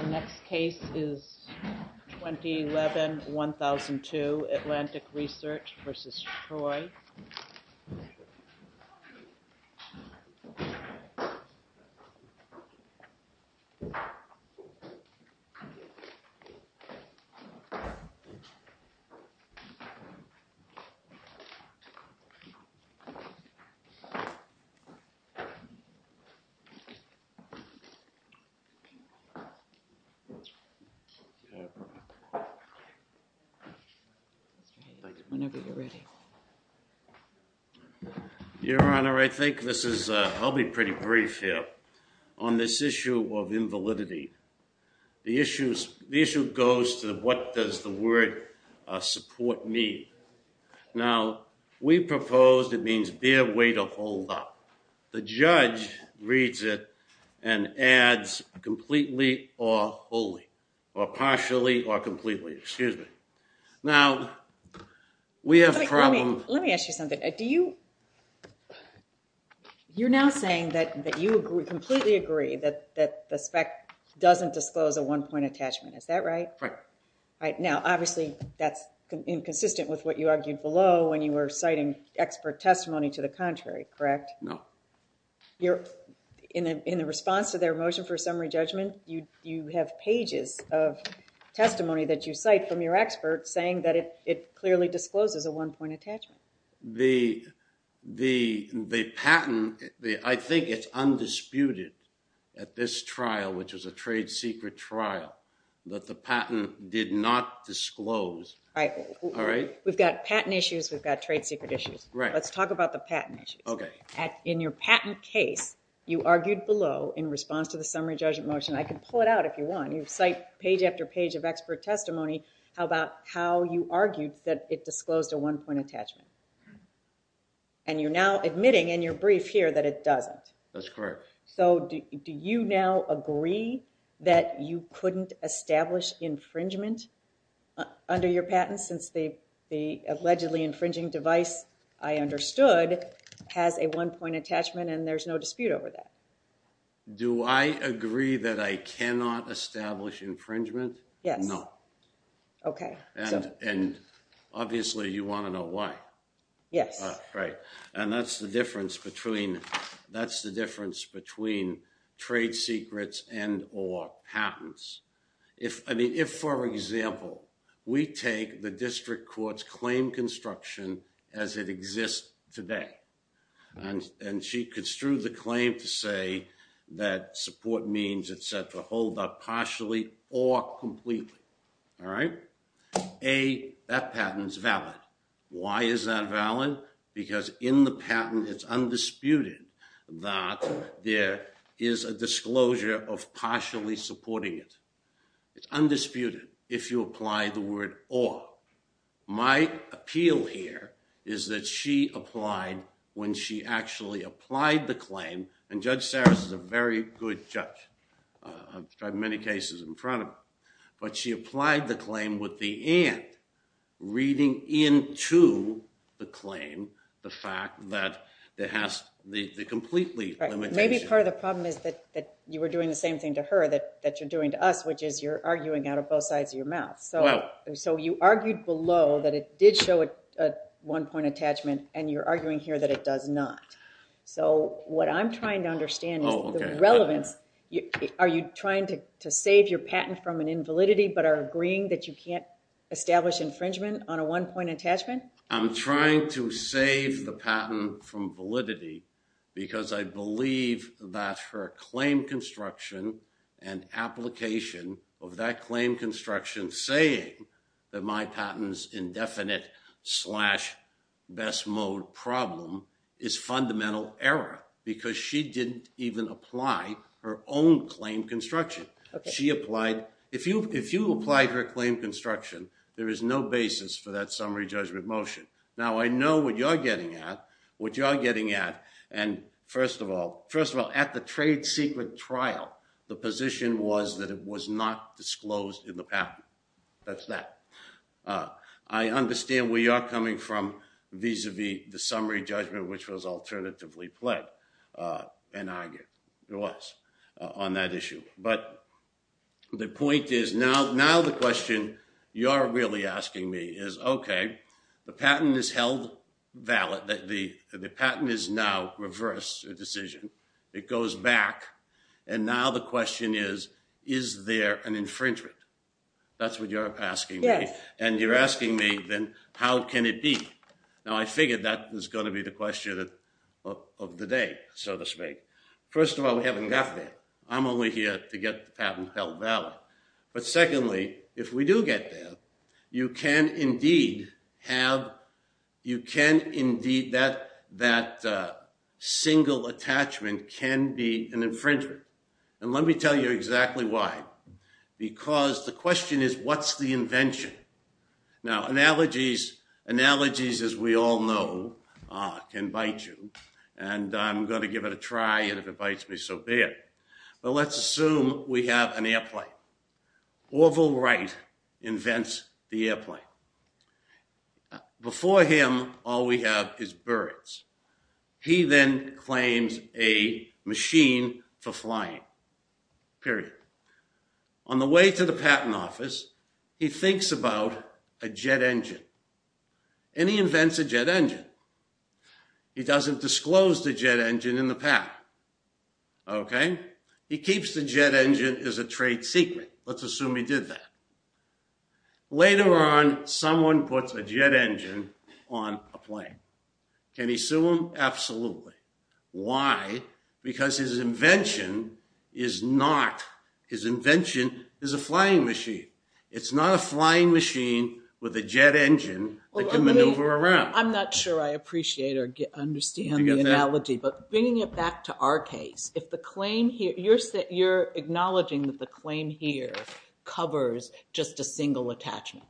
The next case is 2011-2002 ATLANTIC RESEARCH v. TROY Your Honor, I think I'll be pretty brief here on this issue of invalidity. The issue goes to what does the word support mean. Now, we proposed it means bear, wait, or hold up. The judge reads it and adds completely or wholly, or partially or completely, excuse me. Now, we have a problem. Let me ask you something. You're now saying that you completely agree that the spec doesn't disclose a one-point attachment, is that right? Right. Now, obviously that's inconsistent with what you argued below when you were citing expert testimony to the contrary, correct? No. In the response to their motion for summary judgment, you have pages of testimony that you cite from your expert saying that it clearly discloses a one-point attachment. The patent, I think it's undisputed at this trial, which is a trade secret trial, that the patent did not disclose. All right. All right? We've got patent issues, we've got trade secret issues. Right. Let's talk about the patent issue. Okay. In your patent case, you argued below in response to the summary judgment motion. I can pull it out if you want. You cite page after page of expert testimony. How about how you argued that it disclosed a one-point attachment? And you're now admitting in your brief here that it doesn't. That's correct. So do you now agree that you couldn't establish infringement under your patent since the allegedly infringing device, I understood, has a one-point attachment and there's no dispute over that? Do I agree that I cannot establish infringement? Yes. No. Okay. And obviously you want to know why. Yes. Right. And that's the difference between trade secrets and or patents. If, for example, we take the district court's claim construction as it exists today, and she construed the claim to say that support means, et cetera, hold up partially or completely. All right? A, that patent's valid. Why is that valid? Because in the patent it's undisputed that there is a disclosure of partially supporting it. It's undisputed if you apply the word or. My appeal here is that she applied when she actually applied the claim. And Judge Sarris is a very good judge. I've tried many cases in front of her. But she applied the claim with the and, reading into the claim the fact that it has the completely limitation. Maybe part of the problem is that you were doing the same thing to her that you're doing to us, which is you're arguing out of both sides of your mouth. So you argued below that it did show a one-point attachment, and you're arguing here that it does not. So what I'm trying to understand is the relevance. Are you trying to save your patent from an invalidity but are agreeing that you can't establish infringement on a one-point attachment? I'm trying to save the patent from validity because I believe that her claim construction and application of that claim construction saying that my patent is indefinite slash best mode problem is fundamental error. Because she didn't even apply her own claim construction. If you applied her claim construction, there is no basis for that summary judgment motion. Now, I know what you're getting at. What you're getting at, and first of all, at the trade secret trial, the position was that it was not disclosed in the patent. That's that. I understand where you're coming from vis-a-vis the summary judgment, which was alternatively pled and argued. It was on that issue. But the point is now the question you are really asking me is, okay, the patent is held valid. The patent is now reversed a decision. It goes back, and now the question is, is there an infringement? That's what you're asking me. Yes. And you're asking me, then, how can it be? Now, I figured that was going to be the question of the day, so to speak. First of all, we haven't got there. I'm only here to get the patent held valid. But secondly, if we do get there, you can indeed have that single attachment can be an infringement. And let me tell you exactly why. Because the question is, what's the invention? Now, analogies, as we all know, can bite you. And I'm going to give it a try, and if it bites me, so be it. But let's assume we have an airplane. Orville Wright invents the airplane. Before him, all we have is birds. He then claims a machine for flying, period. On the way to the patent office, he thinks about a jet engine. And he invents a jet engine. He doesn't disclose the jet engine in the patent. Okay? He keeps the jet engine as a trade secret. Let's assume he did that. Later on, someone puts a jet engine on a plane. Can he sue him? Absolutely. Why? Because his invention is not his invention is a flying machine. It's not a flying machine with a jet engine that can maneuver around. I'm not sure I appreciate or understand the analogy. But bringing it back to our case, if the claim here, you're acknowledging that the claim here covers just a single attachment.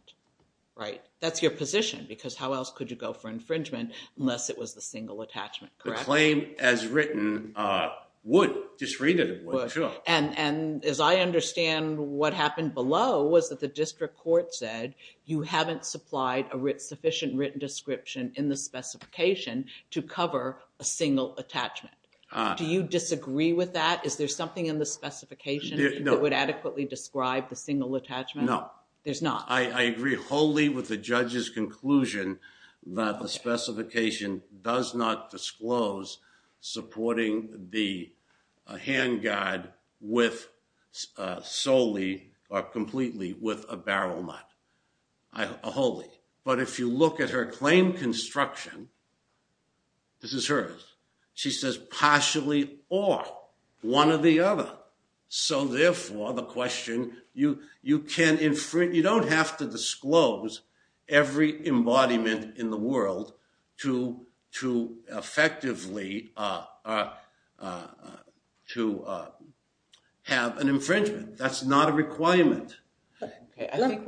Right? That's your position, because how else could you go for infringement unless it was the single attachment, correct? The claim as written would. Just read it, it would. Sure. And as I understand, what happened below was that the district court said, you haven't supplied a sufficient written description in the specification to cover a single attachment. Do you disagree with that? Is there something in the specification that would adequately describe the single attachment? No. There's not? I agree wholly with the judge's conclusion that the specification does not wholly. But if you look at her claim construction, this is hers, she says partially or, one or the other. So, therefore, the question, you don't have to disclose every embodiment in the world to effectively have an infringement. That's not a requirement. Can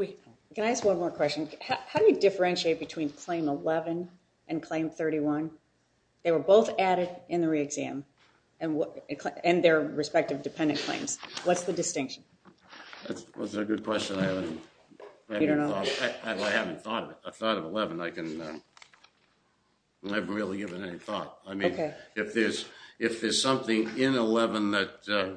I ask one more question? How do you differentiate between Claim 11 and Claim 31? They were both added in the re-exam and their respective dependent claims. What's the distinction? That's a good question. I haven't thought of it. I thought of 11. I can't really give it any thought. I mean, if there's something in 11 that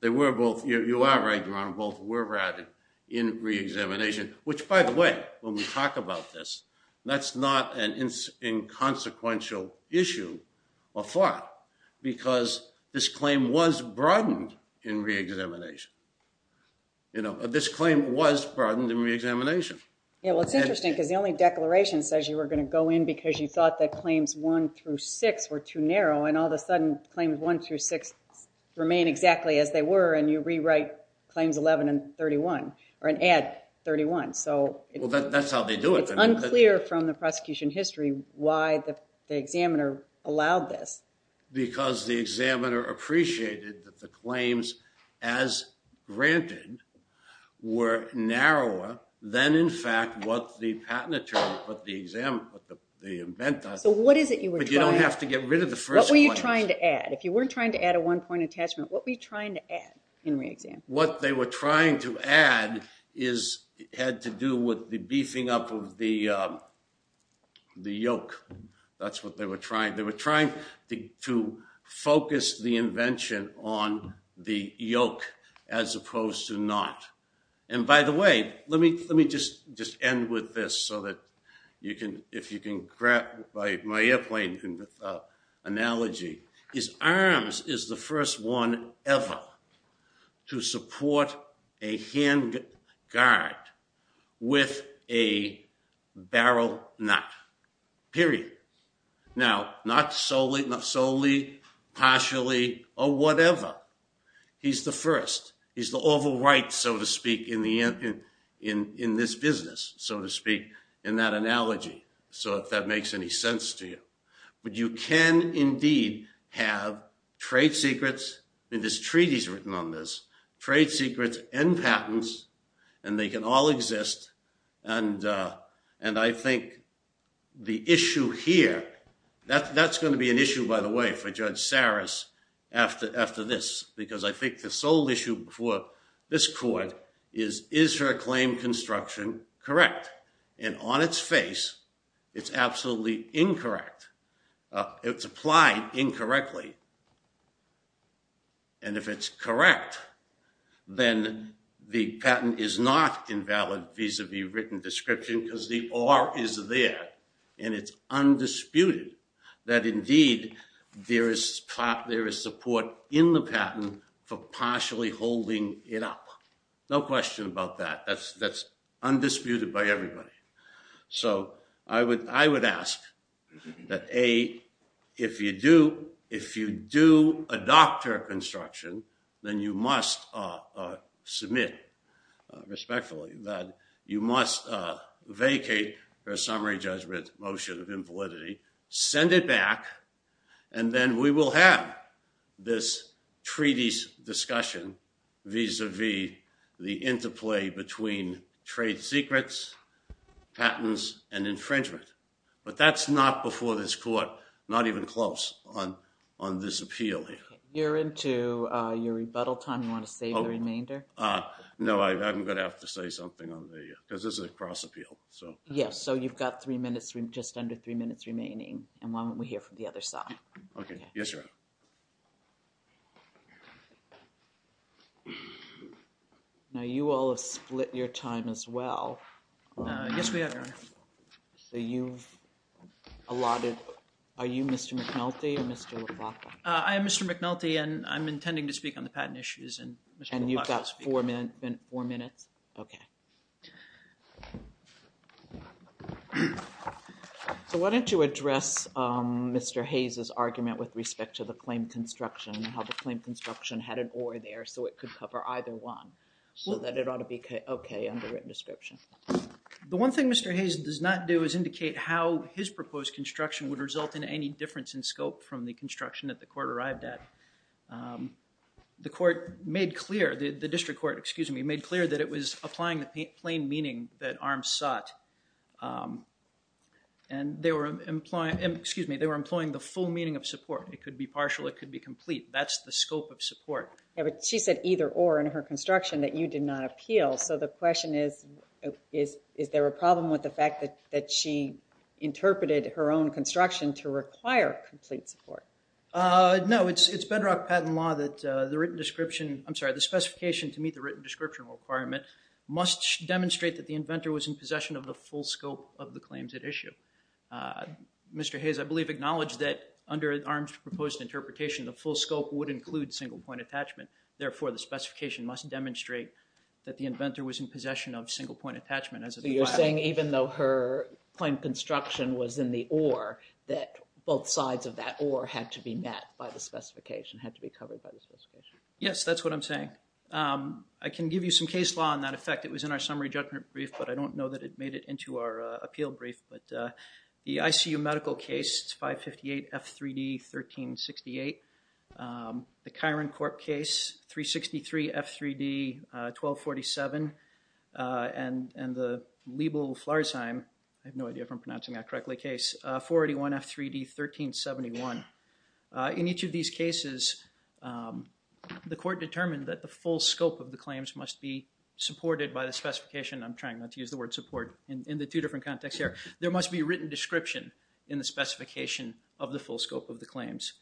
they were both, you are right, both were added in re-examination, which, by the way, when we talk about this, that's not an inconsequential issue of thought because this claim was broadened in re-examination. This claim was broadened in re-examination. Yeah, well, it's interesting because the only declaration says you were going to go in because you thought that Claims 1 through 6 were too narrow, and all of a sudden Claims 1 through 6 remain exactly as they were, and you rewrite Claims 11 and 31 or add 31. Well, that's how they do it. It's unclear from the prosecution history why the examiner allowed this. Because the examiner appreciated that the claims, as granted, were narrower than, in fact, what the patent attorney put the invent on. But you don't have to get rid of the first one. What were you trying to add? If you weren't trying to add a one-point attachment, what were you trying to add in re-exam? What they were trying to add had to do with the beefing up of the yoke. That's what they were trying. They were trying to focus the invention on the yoke as opposed to not. And, by the way, let me just end with this so that if you can grab my airplane analogy. His arms is the first one ever to support a hand guard with a barrel nut, period. Now, not solely, partially, or whatever. He's the first. He's the oval right, so to speak, in this business, so to speak, in that analogy. So if that makes any sense to you. But you can, indeed, have trade secrets, and this treaty's written on this, trade secrets and patents, and they can all exist. And I think the issue here, that's going to be an issue, by the way, for Judge Saris after this, because I think the sole issue before this court is, is her claim construction correct? And on its face, it's absolutely incorrect. It's applied incorrectly. And if it's correct, then the patent is not invalid vis-a-vis written description because the R is there, and it's undisputed that, indeed, there is support in the patent for partially holding it up. No question about that. That's undisputed by everybody. So I would ask that, A, if you do adopt her construction, then you must submit respectfully that you must vacate her summary judgment motion of invalidity, send it back, and then we will have this treaty's written vis-a-vis the interplay between trade secrets, patents, and infringement. But that's not before this court, not even close on this appeal here. You're into your rebuttal time. You want to save the remainder? No, I'm going to have to say something on the, because this is a cross appeal, so. Yes, so you've got three minutes, just under three minutes remaining, and why don't we hear from the other side? Okay, yes, Your Honor. Now, you all have split your time as well. Yes, we have, Your Honor. So you've allotted, are you Mr. McNulty or Mr. LaFleur? I am Mr. McNulty, and I'm intending to speak on the patent issues, and Mr. LaFleur. And you've got four minutes? Okay. Okay. So why don't you address Mr. Hayes' argument with respect to the claim construction and how the claim construction had an or there so it could cover either one, so that it ought to be okay under written description. The one thing Mr. Hayes does not do is indicate how his proposed construction would result in any difference in scope from the construction that the court arrived at. The court made clear, the district court, excuse me, made clear that it was applying the plain meaning that ARMS sought. And they were employing the full meaning of support. It could be partial. It could be complete. That's the scope of support. Yeah, but she said either or in her construction that you did not appeal, so the question is, is there a problem with the fact that she interpreted her own construction to require complete support? No, it's bedrock patent law that the written description, I'm sorry, the specification to meet the written description requirement must demonstrate that the inventor was in possession of the full scope of the claims at issue. Mr. Hayes, I believe, acknowledged that under ARMS' proposed interpretation, the full scope would include single point attachment. Therefore, the specification must demonstrate that the inventor was in possession of single point attachment. So you're saying even though her claim construction was in the or, that both sides of that or had to be met by the specification, had to be covered by the specification? Yes, that's what I'm saying. I can give you some case law on that effect. It was in our summary judgment brief, but I don't know that it made it into our appeal brief. But the ICU medical case, it's 558F3D1368. The Chiron Corp case, 363F3D1247. And the Liebel-Flarsheim, I have no idea if I'm pronouncing that correctly, case, 481F3D1371. In each of these cases, the court determined that the full scope of the claims must be supported by the specification. I'm trying not to use the word support in the two different contexts here. There must be a written description in the specification of the full scope of the claims.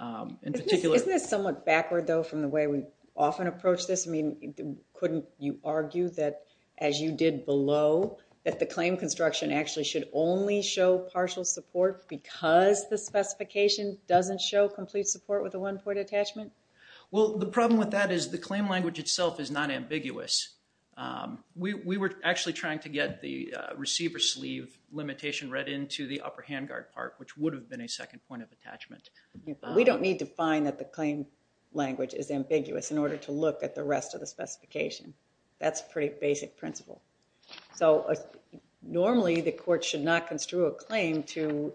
Isn't this somewhat backward, though, from the way we often approach this? I mean, couldn't you argue that as you did below that the claim construction actually should only show partial support because the specification doesn't show complete support with a one-point attachment? Well, the problem with that is the claim language itself is not ambiguous. We were actually trying to get the receiver sleeve limitation read into the upper handguard part, which would have been a second point of attachment. We don't need to find that the claim language is ambiguous in order to look at the rest of the specification. That's pretty basic principle. Normally, the court should not construe a claim to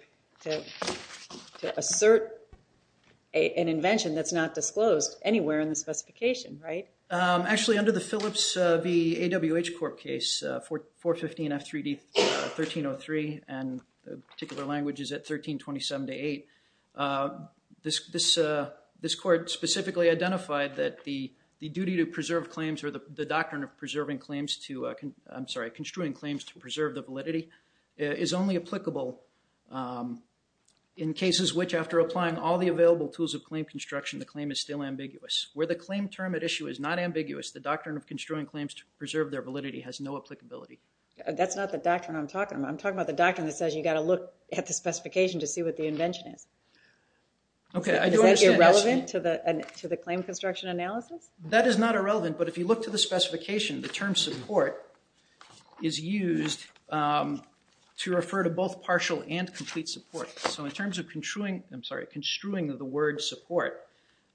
assert an invention that's not disclosed anywhere in the specification, right? Actually, under the Phillips v. AWH Corp case, 415 F3D 1303, and the particular language is at 1327-8, this court specifically identified that the duty to preserve claims or the doctrine of construing claims to preserve the validity is only applicable in cases which after applying all the available tools of claim construction, the claim is still ambiguous. Where the claim term at issue is not ambiguous, the doctrine of construing claims to preserve their validity has no applicability. That's not the doctrine I'm talking about. I'm talking about the doctrine that says you got to look at the specification to see what the invention is. Okay. Is that irrelevant to the claim construction analysis? That is not irrelevant, but if you look to the specification, the term support is used to refer to both partial and complete support. So in terms of construing, I'm sorry, construing of the word support,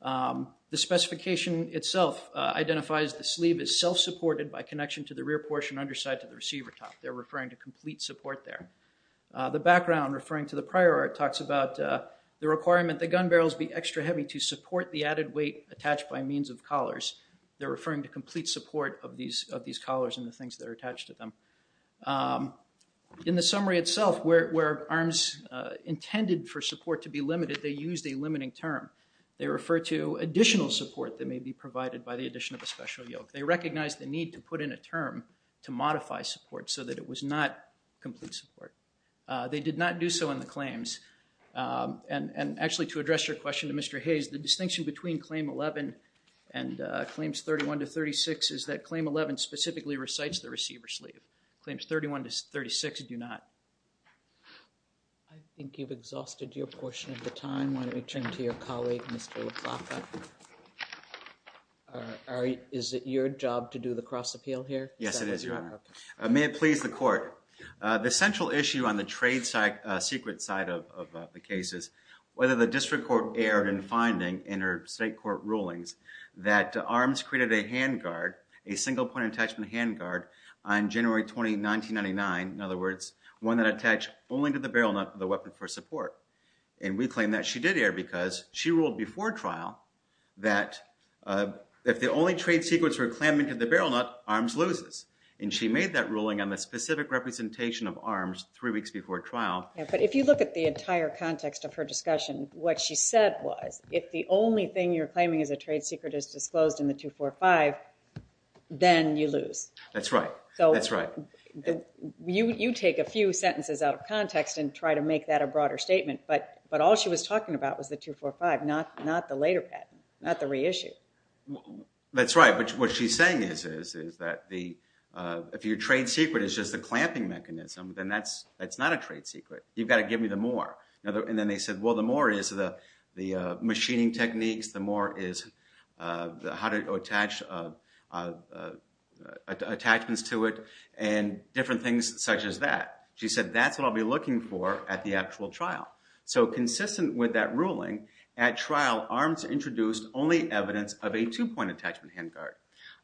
the specification itself identifies the sleeve is self-supported by connection to the rear portion, underside to the receiver top. They're referring to complete support there. The background referring to the prior art talks about the requirement that gun barrels be extra heavy to support the added weight attached by means of collars. They're referring to complete support of these collars and the things that are attached to them. In the summary itself, where ARMS intended for support to be limited, they used a limiting term. They refer to additional support that may be provided by the addition of a special yoke. They recognize the need to put in a term to modify support so that it was not complete support. They did not do so in the claims. And actually to address your question to Mr. Hayes, the distinction between claim 11 and claims 31 to 36 is that claim 11 specifically recites the receiver sleeve. Claims 31 to 36 do not. I think you've exhausted your portion of the time. Why don't we turn to your colleague, Mr. LaPlaca. Is it your job to do the cross appeal here? Yes, it is your honor. May it please the court. The central issue on the trade side, secret side of the cases, whether the district court erred in finding in her state court rulings that ARMS created a hand guard, a single point attachment hand guard on January 20, 1999. In other words, one that attached only to the barrel nut of the weapon for support. And we claim that she did air because she ruled before trial that if the only trade secrets were clamped into the barrel nut, ARMS loses. And she made that ruling on the specific representation of ARMS three weeks before trial. But if you look at the entire context of her discussion, what she said was if the only thing you're claiming is a trade secret is disclosed in the two, four, five, then you lose. That's right. That's right. You, you take a few sentences out of context and try to make that a broader statement. But, but all she was talking about was the two, four, five, not, not the later patent, not the reissue. That's right. But what she's saying is, is, is that the, uh, if your trade secret is just the clamping mechanism, then that's, that's not a trade secret. You've got to give me the more. And then they said, well, the more is the, the, uh, machining techniques, the more is, uh, the, how to attach, uh, uh, uh, attachments to it and different things such as that. She said, that's what I'll be looking for at the actual trial. So consistent with that ruling at trial, ARMS introduced only evidence of a two point attachment hand guard.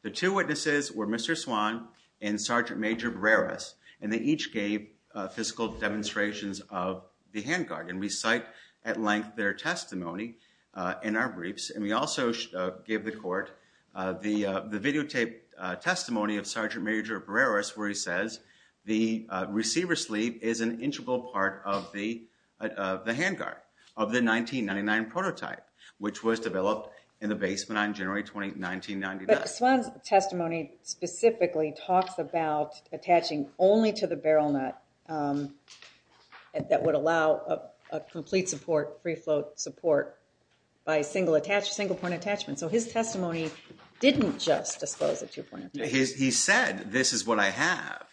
The two witnesses were Mr. Swan and Sergeant Major Breras. And they each gave, uh, physical demonstrations of the hand guard. And we cite at length their testimony, uh, in our briefs. And we also, uh, gave the court, uh, the, uh, the videotape testimony of Sergeant Major Breras where he says the, uh, receiver sleeve is an integral part of the, uh, the hand guard of the 1999 prototype, which was developed in the basement on January 20th, 1999. But Swan's testimony specifically talks about attaching only to the barrel nut, um, that would allow a, a complete support, free float support by single attach, single point attachment. So his testimony didn't just disclose the two point attachment. He said, this is what I have,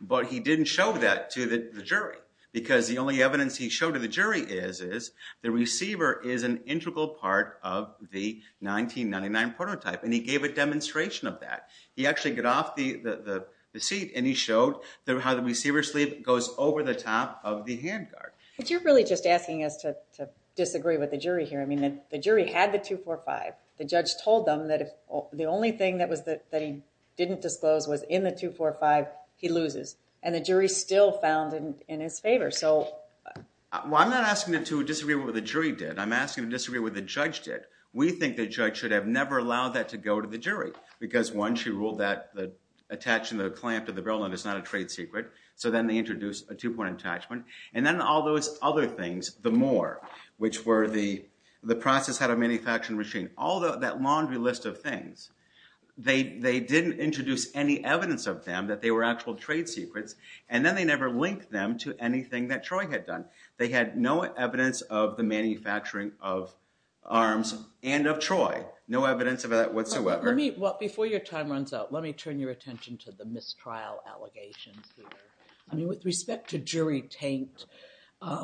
but he didn't show that to the jury. Because the only evidence he showed to the jury is, is the receiver is an integral part of the 1999 prototype. And he gave a demonstration of that. He actually got off the, the, the seat and he showed the, how the receiver sleeve goes over the top of the hand guard. But you're really just asking us to, to disagree with the jury here. I mean, the jury had the 245. The judge told them that if the only thing that was the, that he didn't disclose was in the 245, he loses. And the jury still found in, in his favor. So. Well, I'm not asking them to disagree with what the jury did. I'm asking them to disagree with what the judge did. We think the judge should have never allowed that to go to the jury. Because one, she ruled that the attaching the clamp to the barrel and it's not a trade secret. So then they introduced a two point attachment. And then all those other things, the more, which were the, the process had a manufacturing machine, all that laundry list of things. They, they didn't introduce any evidence of them, that they were actual trade secrets. And then they never linked them to anything that Troy had done. They had no evidence of the manufacturing of arms and of Troy. No evidence of that whatsoever. Let me, before your time runs out, let me turn your attention to the mistrial allegations here. I mean, with respect to jury taint,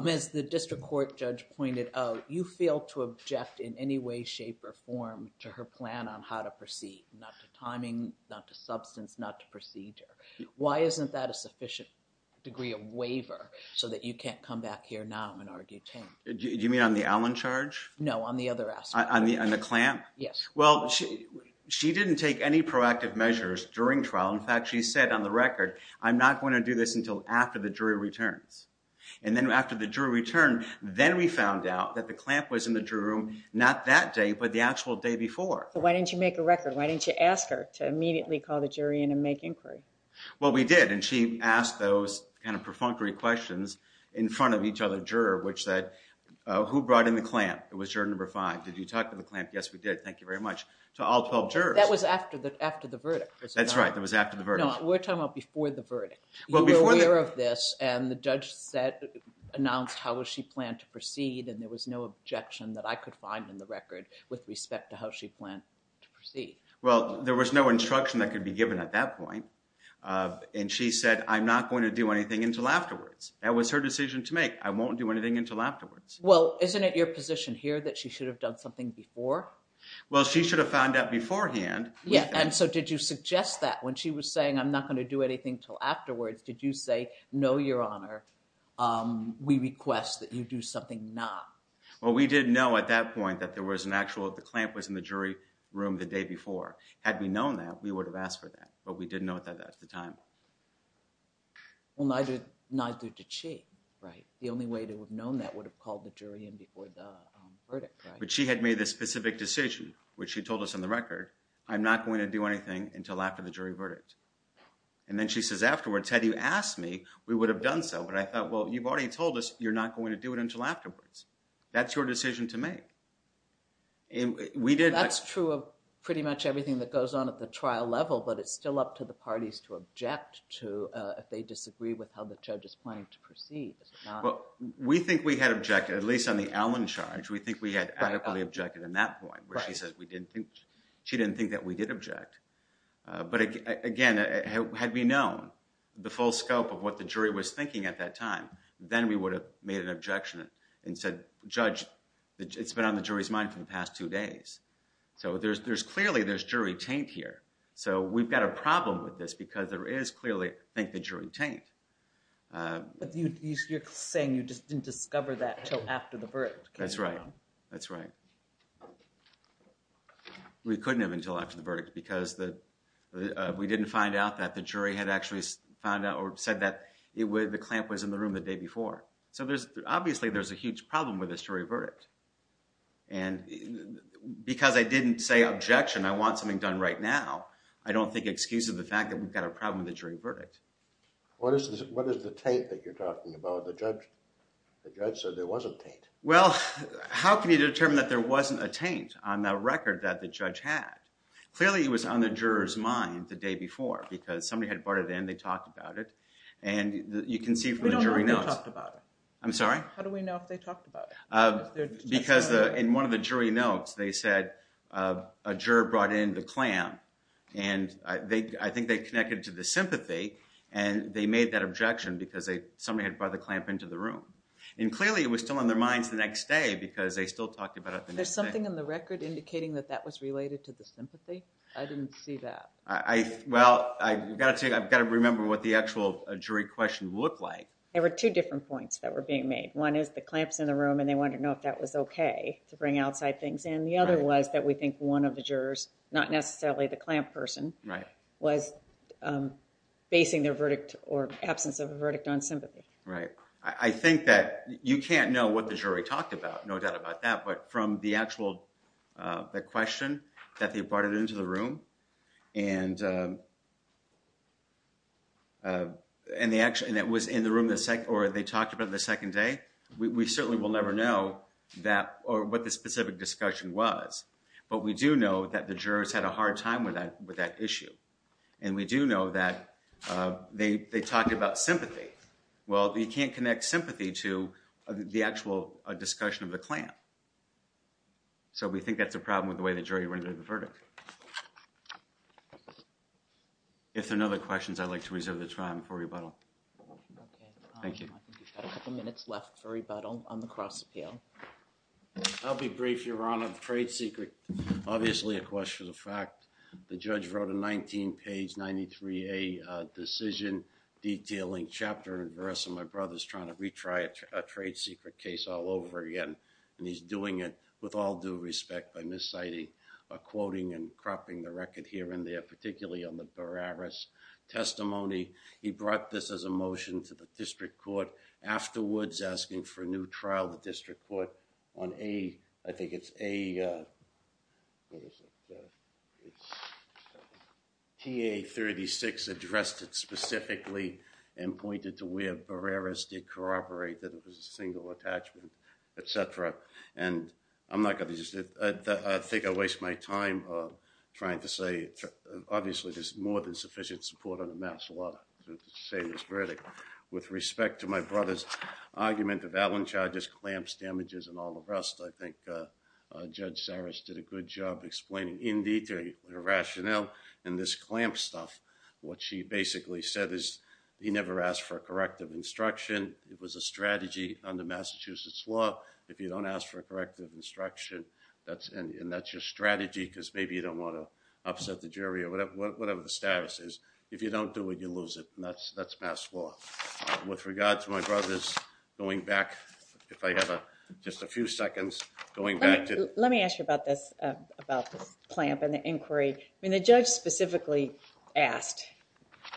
as the district court judge pointed out, you fail to object in any way, shape or form to her plan on how to proceed. Not to timing, not to substance, not to procedure. Why isn't that a sufficient degree of waiver so that you can't come back here now and argue taint? Do you mean on the Allen charge? No, on the other aspect. On the clamp? Yes. Well, she, she didn't take any proactive measures during trial. In fact, she said on the record, I'm not going to do this until after the jury returns. And then after the jury returned, then we found out that the clamp was in the jury room, not that day, but the actual day before. Why didn't you make a record? Why didn't you ask her to immediately call the jury in and make inquiry? Well, we did. And she asked those kind of perfunctory questions in front of each other juror, which said, who brought in the clamp? It was juror number five. Did you talk to the clamp? Yes, we did. Thank you very much. To all 12 jurors. That was after the, after the verdict. That's right. That was after the verdict. No, we're talking about before the verdict. You were aware of this and the judge said, announced how was she planned to proceed. And there was no objection that I could find in the record with respect to how she planned to proceed. Well, there was no instruction that could be given at that point. And she said, I'm not going to do anything until afterwards. That was her decision to make. I won't do anything until afterwards. Well, isn't it your position here that she should have done something before? Well, she should have found out beforehand. Yeah. And so did you suggest that when she was saying, I'm not going to do anything until afterwards, did you say, no, your honor, we request that you do something not. Well, we didn't know at that point that there was an actual, the clamp was in the jury room the day before. Had we known that we would have asked for that, but we didn't know that at the time. Well, neither did she. Right. The only way to have known that would have called the jury in before the verdict. But she had made this specific decision, which she told us on the record, I'm not going to do anything until after the jury verdict. And then she says afterwards, had you asked me, we would have done so. But I thought, well, you've already told us, you're not going to do it until afterwards. That's your decision to make. And we did. That's true of pretty much everything that goes on at the trial level, but it's still up to the parties to object to if they disagree with how the judge is planning to proceed. We think we had objected, at least on the Allen charge, we think we had adequately objected in that point, where she says we didn't think, she didn't think that we did object. But again, had we known the full scope of what the jury was thinking at that time, then we would have made an objection and said, judge, it's been on the jury's mind for the past two days. So there's, there's clearly there's jury taint here. So we've got a problem with this because there is clearly, I think the jury taint. You're saying you just didn't discover that until after the verdict. That's right. That's right. We couldn't have until after the verdict because the, we didn't find out that the jury had actually found out or said that it would, the clamp was in the room the day before. So there's obviously there's a huge problem with this jury verdict. And because I didn't say objection, I want something done right now, I don't think excuse of the fact that we've got a problem with the jury verdict. What is the, what is the tape that you're talking about? The judge, the judge said there wasn't taint. Well, how can you determine that there wasn't a taint on the record that the judge had? Clearly it was on the juror's mind the day before because somebody had brought it in. They talked about it and you can see from the jury notes, I'm sorry. How do we know if they talked about it? Because the, in one of the jury notes, they said a juror brought in the clamp and they, I think they connected to the sympathy and they made that objection because they, somebody had brought the clamp into the room. And clearly it was still on their minds the next day because they still talked about it. There's something in the record indicating that that was related to the sympathy. I didn't see that. I, well, I got to take, I've got to remember what the actual jury question looked like. There were two different points that were being made. One is the clamps in the room and they wanted to know if that was okay to do. And the other was that we think one of the jurors, not necessarily the clamp person. Right. Was basing their verdict or absence of a verdict on sympathy. Right. I think that you can't know what the jury talked about. No doubt about that. But from the actual, the question that they brought it into the room and and the action that was in the room or they talked about the second day, we certainly will never know that or what the specific discussion was, but we do know that the jurors had a hard time with that, with that issue. And we do know that they, they talked about sympathy. Well, you can't connect sympathy to the actual discussion of the clamp. So we think that's a problem with the way the jury rendered the verdict. If there are no other questions, I'd like to reserve the time for rebuttal. Okay. Thank you. We've got a couple of minutes left for rebuttal on the cross appeal. I'll be brief. Your Honor, the trade secret, obviously a question of fact, the judge wrote a 19 page 93, a decision detailing chapter and verse. And my brother's trying to retry a trade secret case all over again. And he's doing it with all due respect by Miss sighting, a quoting and cropping the record here and there, particularly on the Barreras testimony. He brought this as a motion to the district court afterwards, asking for a new trial, the district court on a, I think it's a, uh, what is it? Uh, it's TA 36 addressed it specifically and pointed to where Barreras did corroborate that it was a single attachment, et cetera. And I'm not going to just, I think I waste my time trying to say, obviously there's more than sufficient support on the mass law to say this verdict with respect to my brother's argument of Allen charges, clamps, damages, and all the rest. I think, uh, uh, judge Cyrus did a good job explaining in detail, the rationale and this clamp stuff. What she basically said is he never asked for a corrective instruction. It was a strategy on the Massachusetts law. If you don't ask for a corrective instruction, that's, and that's your strategy because maybe you don't want to upset the jury or whatever, whatever the status is. If you don't do it, you lose it. And that's, that's mass law with regards to my brother's going back. If I have a, just a few seconds going back to, let me ask you about this, uh, about clamp and the inquiry. I mean, the judge specifically asked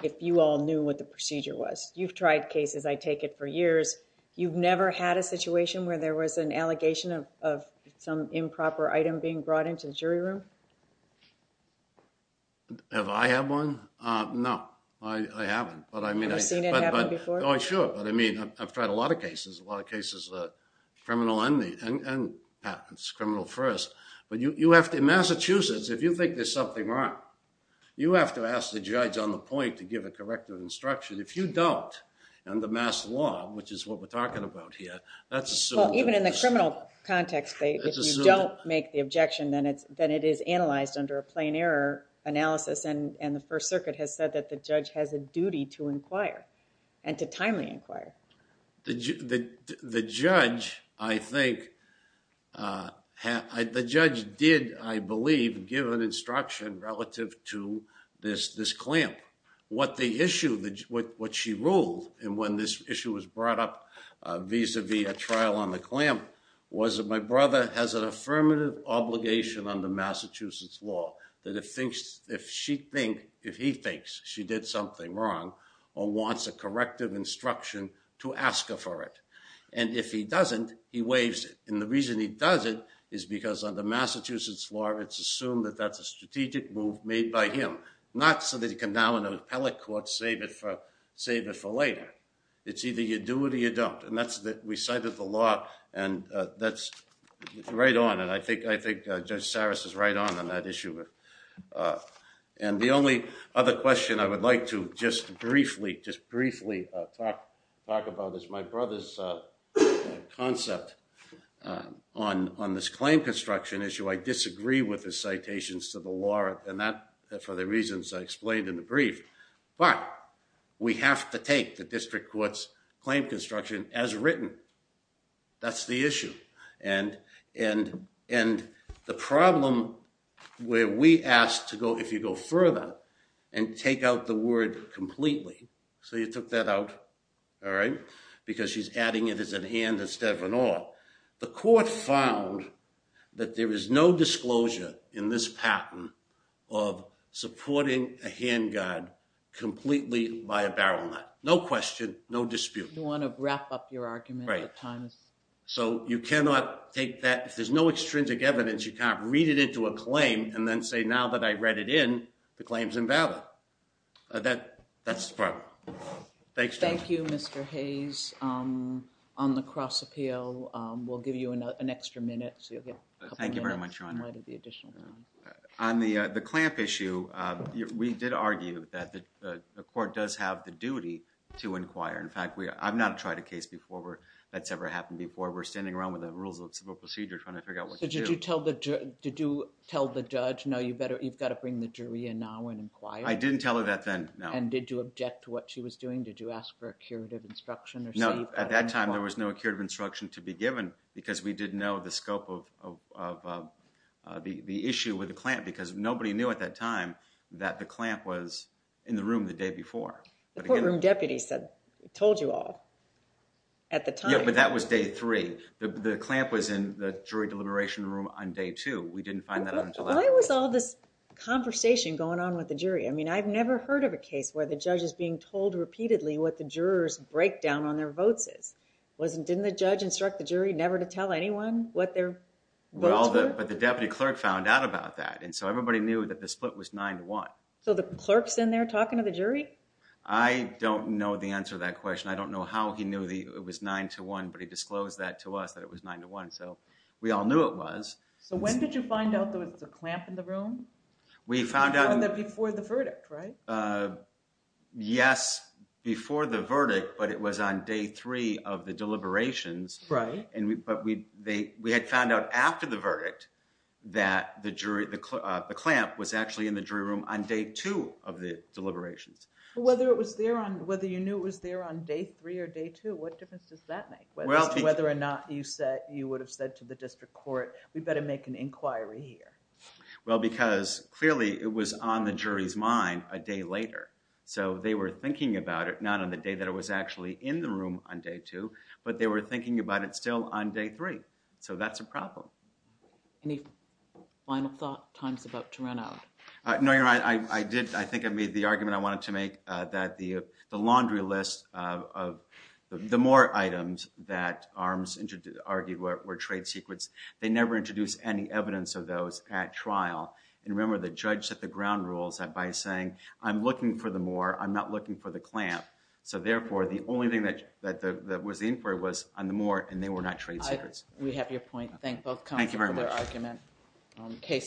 if you all knew what the procedure was, you've tried cases. I take it for years. You've never had a situation where there was an allegation of, of some improper item being brought into the jury room. Have I had one? Uh, no, I haven't, but I mean, I've seen it happen before. Oh, sure. But I mean, I've tried a lot of cases, a lot of cases, uh, criminal and patents criminal first, but you, you have to, in Massachusetts, if you think there's something wrong, you have to ask the judge on the point to give a corrective instruction. If you don't, and the mass law, which is what we're talking about here, even in the criminal context, if you don't make the objection, then it's, then it is analyzed under a plain error analysis. And, and the first circuit has said that the judge has a duty to inquire and to timely inquire. The, the, the judge, I think, uh, the judge did, I believe, give an instruction relative to this, this clamp, what the issue, what she ruled. And when this issue was brought up, uh, visa via trial on the clamp was that my brother has an affirmative obligation on the Massachusetts law that it thinks if she think if he thinks she did something wrong or wants a corrective instruction to ask her for it. And if he doesn't, he waves it. And the reason he does it is because on the Massachusetts law, it's assumed that that's a strategic move made by him, not so that he can now in an appellate court, save it for, save it for later. It's either you do it or you don't. And that's the, we cited the law and, uh, that's right on. And I think, I think, uh, just Sarah's is right on on that issue. Uh, and the only other question I would like to just briefly, just briefly, uh, talk, talk about this. My brother's, uh, concept, uh, on, on this claim construction issue. I disagree with the citations to the law and that for the reasons I explained in the brief, but we have to take the, the district courts claim construction as written. That's the issue. And, and, and the problem where we asked to go, if you go further and take out the word completely. So you took that out. All right, because she's adding it as an hand, instead of an all the court found that there is no disclosure in this pattern. Supporting a hand guard completely by a barrel nut. No question. No dispute. You want to wrap up your argument, right? So you cannot take that. If there's no extrinsic evidence, you can't read it into a claim and then say, now that I read it in the claims invalid. Uh, that that's fine. Thanks. Thank you. Mr. Hayes, um, on the cross appeal. Um, we'll give you an extra minute. So you'll get. Thank you very much. On the, uh, the clamp issue, uh, we did argue that the, uh, the court does have the duty to inquire. In fact, we, I've not tried a case before where that's ever happened before we're standing around with the rules of civil procedure trying to figure out what to do. Did you tell the, did you tell the judge? No, you better, you've got to bring the jury in now and inquire. I didn't tell her that then. No. And did you object to what she was doing? Did you ask for a curative instruction? No. At that time, there was no curative instruction to be given because we didn't know the scope of, of, of, uh, the, the issue with the clamp, because nobody knew at that time that the clamp was in the room the day before the courtroom. Deputy said, told you all at the time, but that was day three. The, the clamp was in the jury deliberation room on day two. We didn't find that until I was all this conversation going on with the jury. I mean, I've never heard of a case where the judge is being told repeatedly what the jurors break down on their votes is wasn't, didn't the judge instruct the jury never to tell anyone? What their well, but the deputy clerk found out about that. And so everybody knew that the split was nine to one. So the clerk's in there talking to the jury. I don't know the answer to that question. I don't know how he knew the, it was nine to one, but he disclosed that to us that it was nine to one. So we all knew it was. So when did you find out there was a clamp in the room? We found out that before the verdict, right? Uh, yes, before the verdict, but it was on day three of the deliberations. Right. And we, but we, they, we had found out after the verdict that the jury, the, uh, the clamp was actually in the jury room on day two of the deliberations. Well, whether it was there on whether you knew it was there on day three or day two, what difference does that make? Whether or not you said you would have said to the district court, we better make an inquiry here. Well, because clearly it was on the jury's mind a day later. So they were thinking about it, not on the day that it was actually in the room on day two, but they were thinking about it still on day three. So that's a problem. Any final thought times about to run out? Uh, no, you're right. I, I did. I think I made the argument I wanted to make, uh, that the, the laundry list, uh, of the, the more items that arms into argued where, where trade secrets, they never introduced any evidence of those at trial. And remember the judge set the ground rules that by saying, I'm looking for the more, I'm not looking for the clamp. So therefore the only thing that, that the, that was the inquiry was on the more, and they were not trade secrets. We have your point. Thank both. Thank you very much. Okay.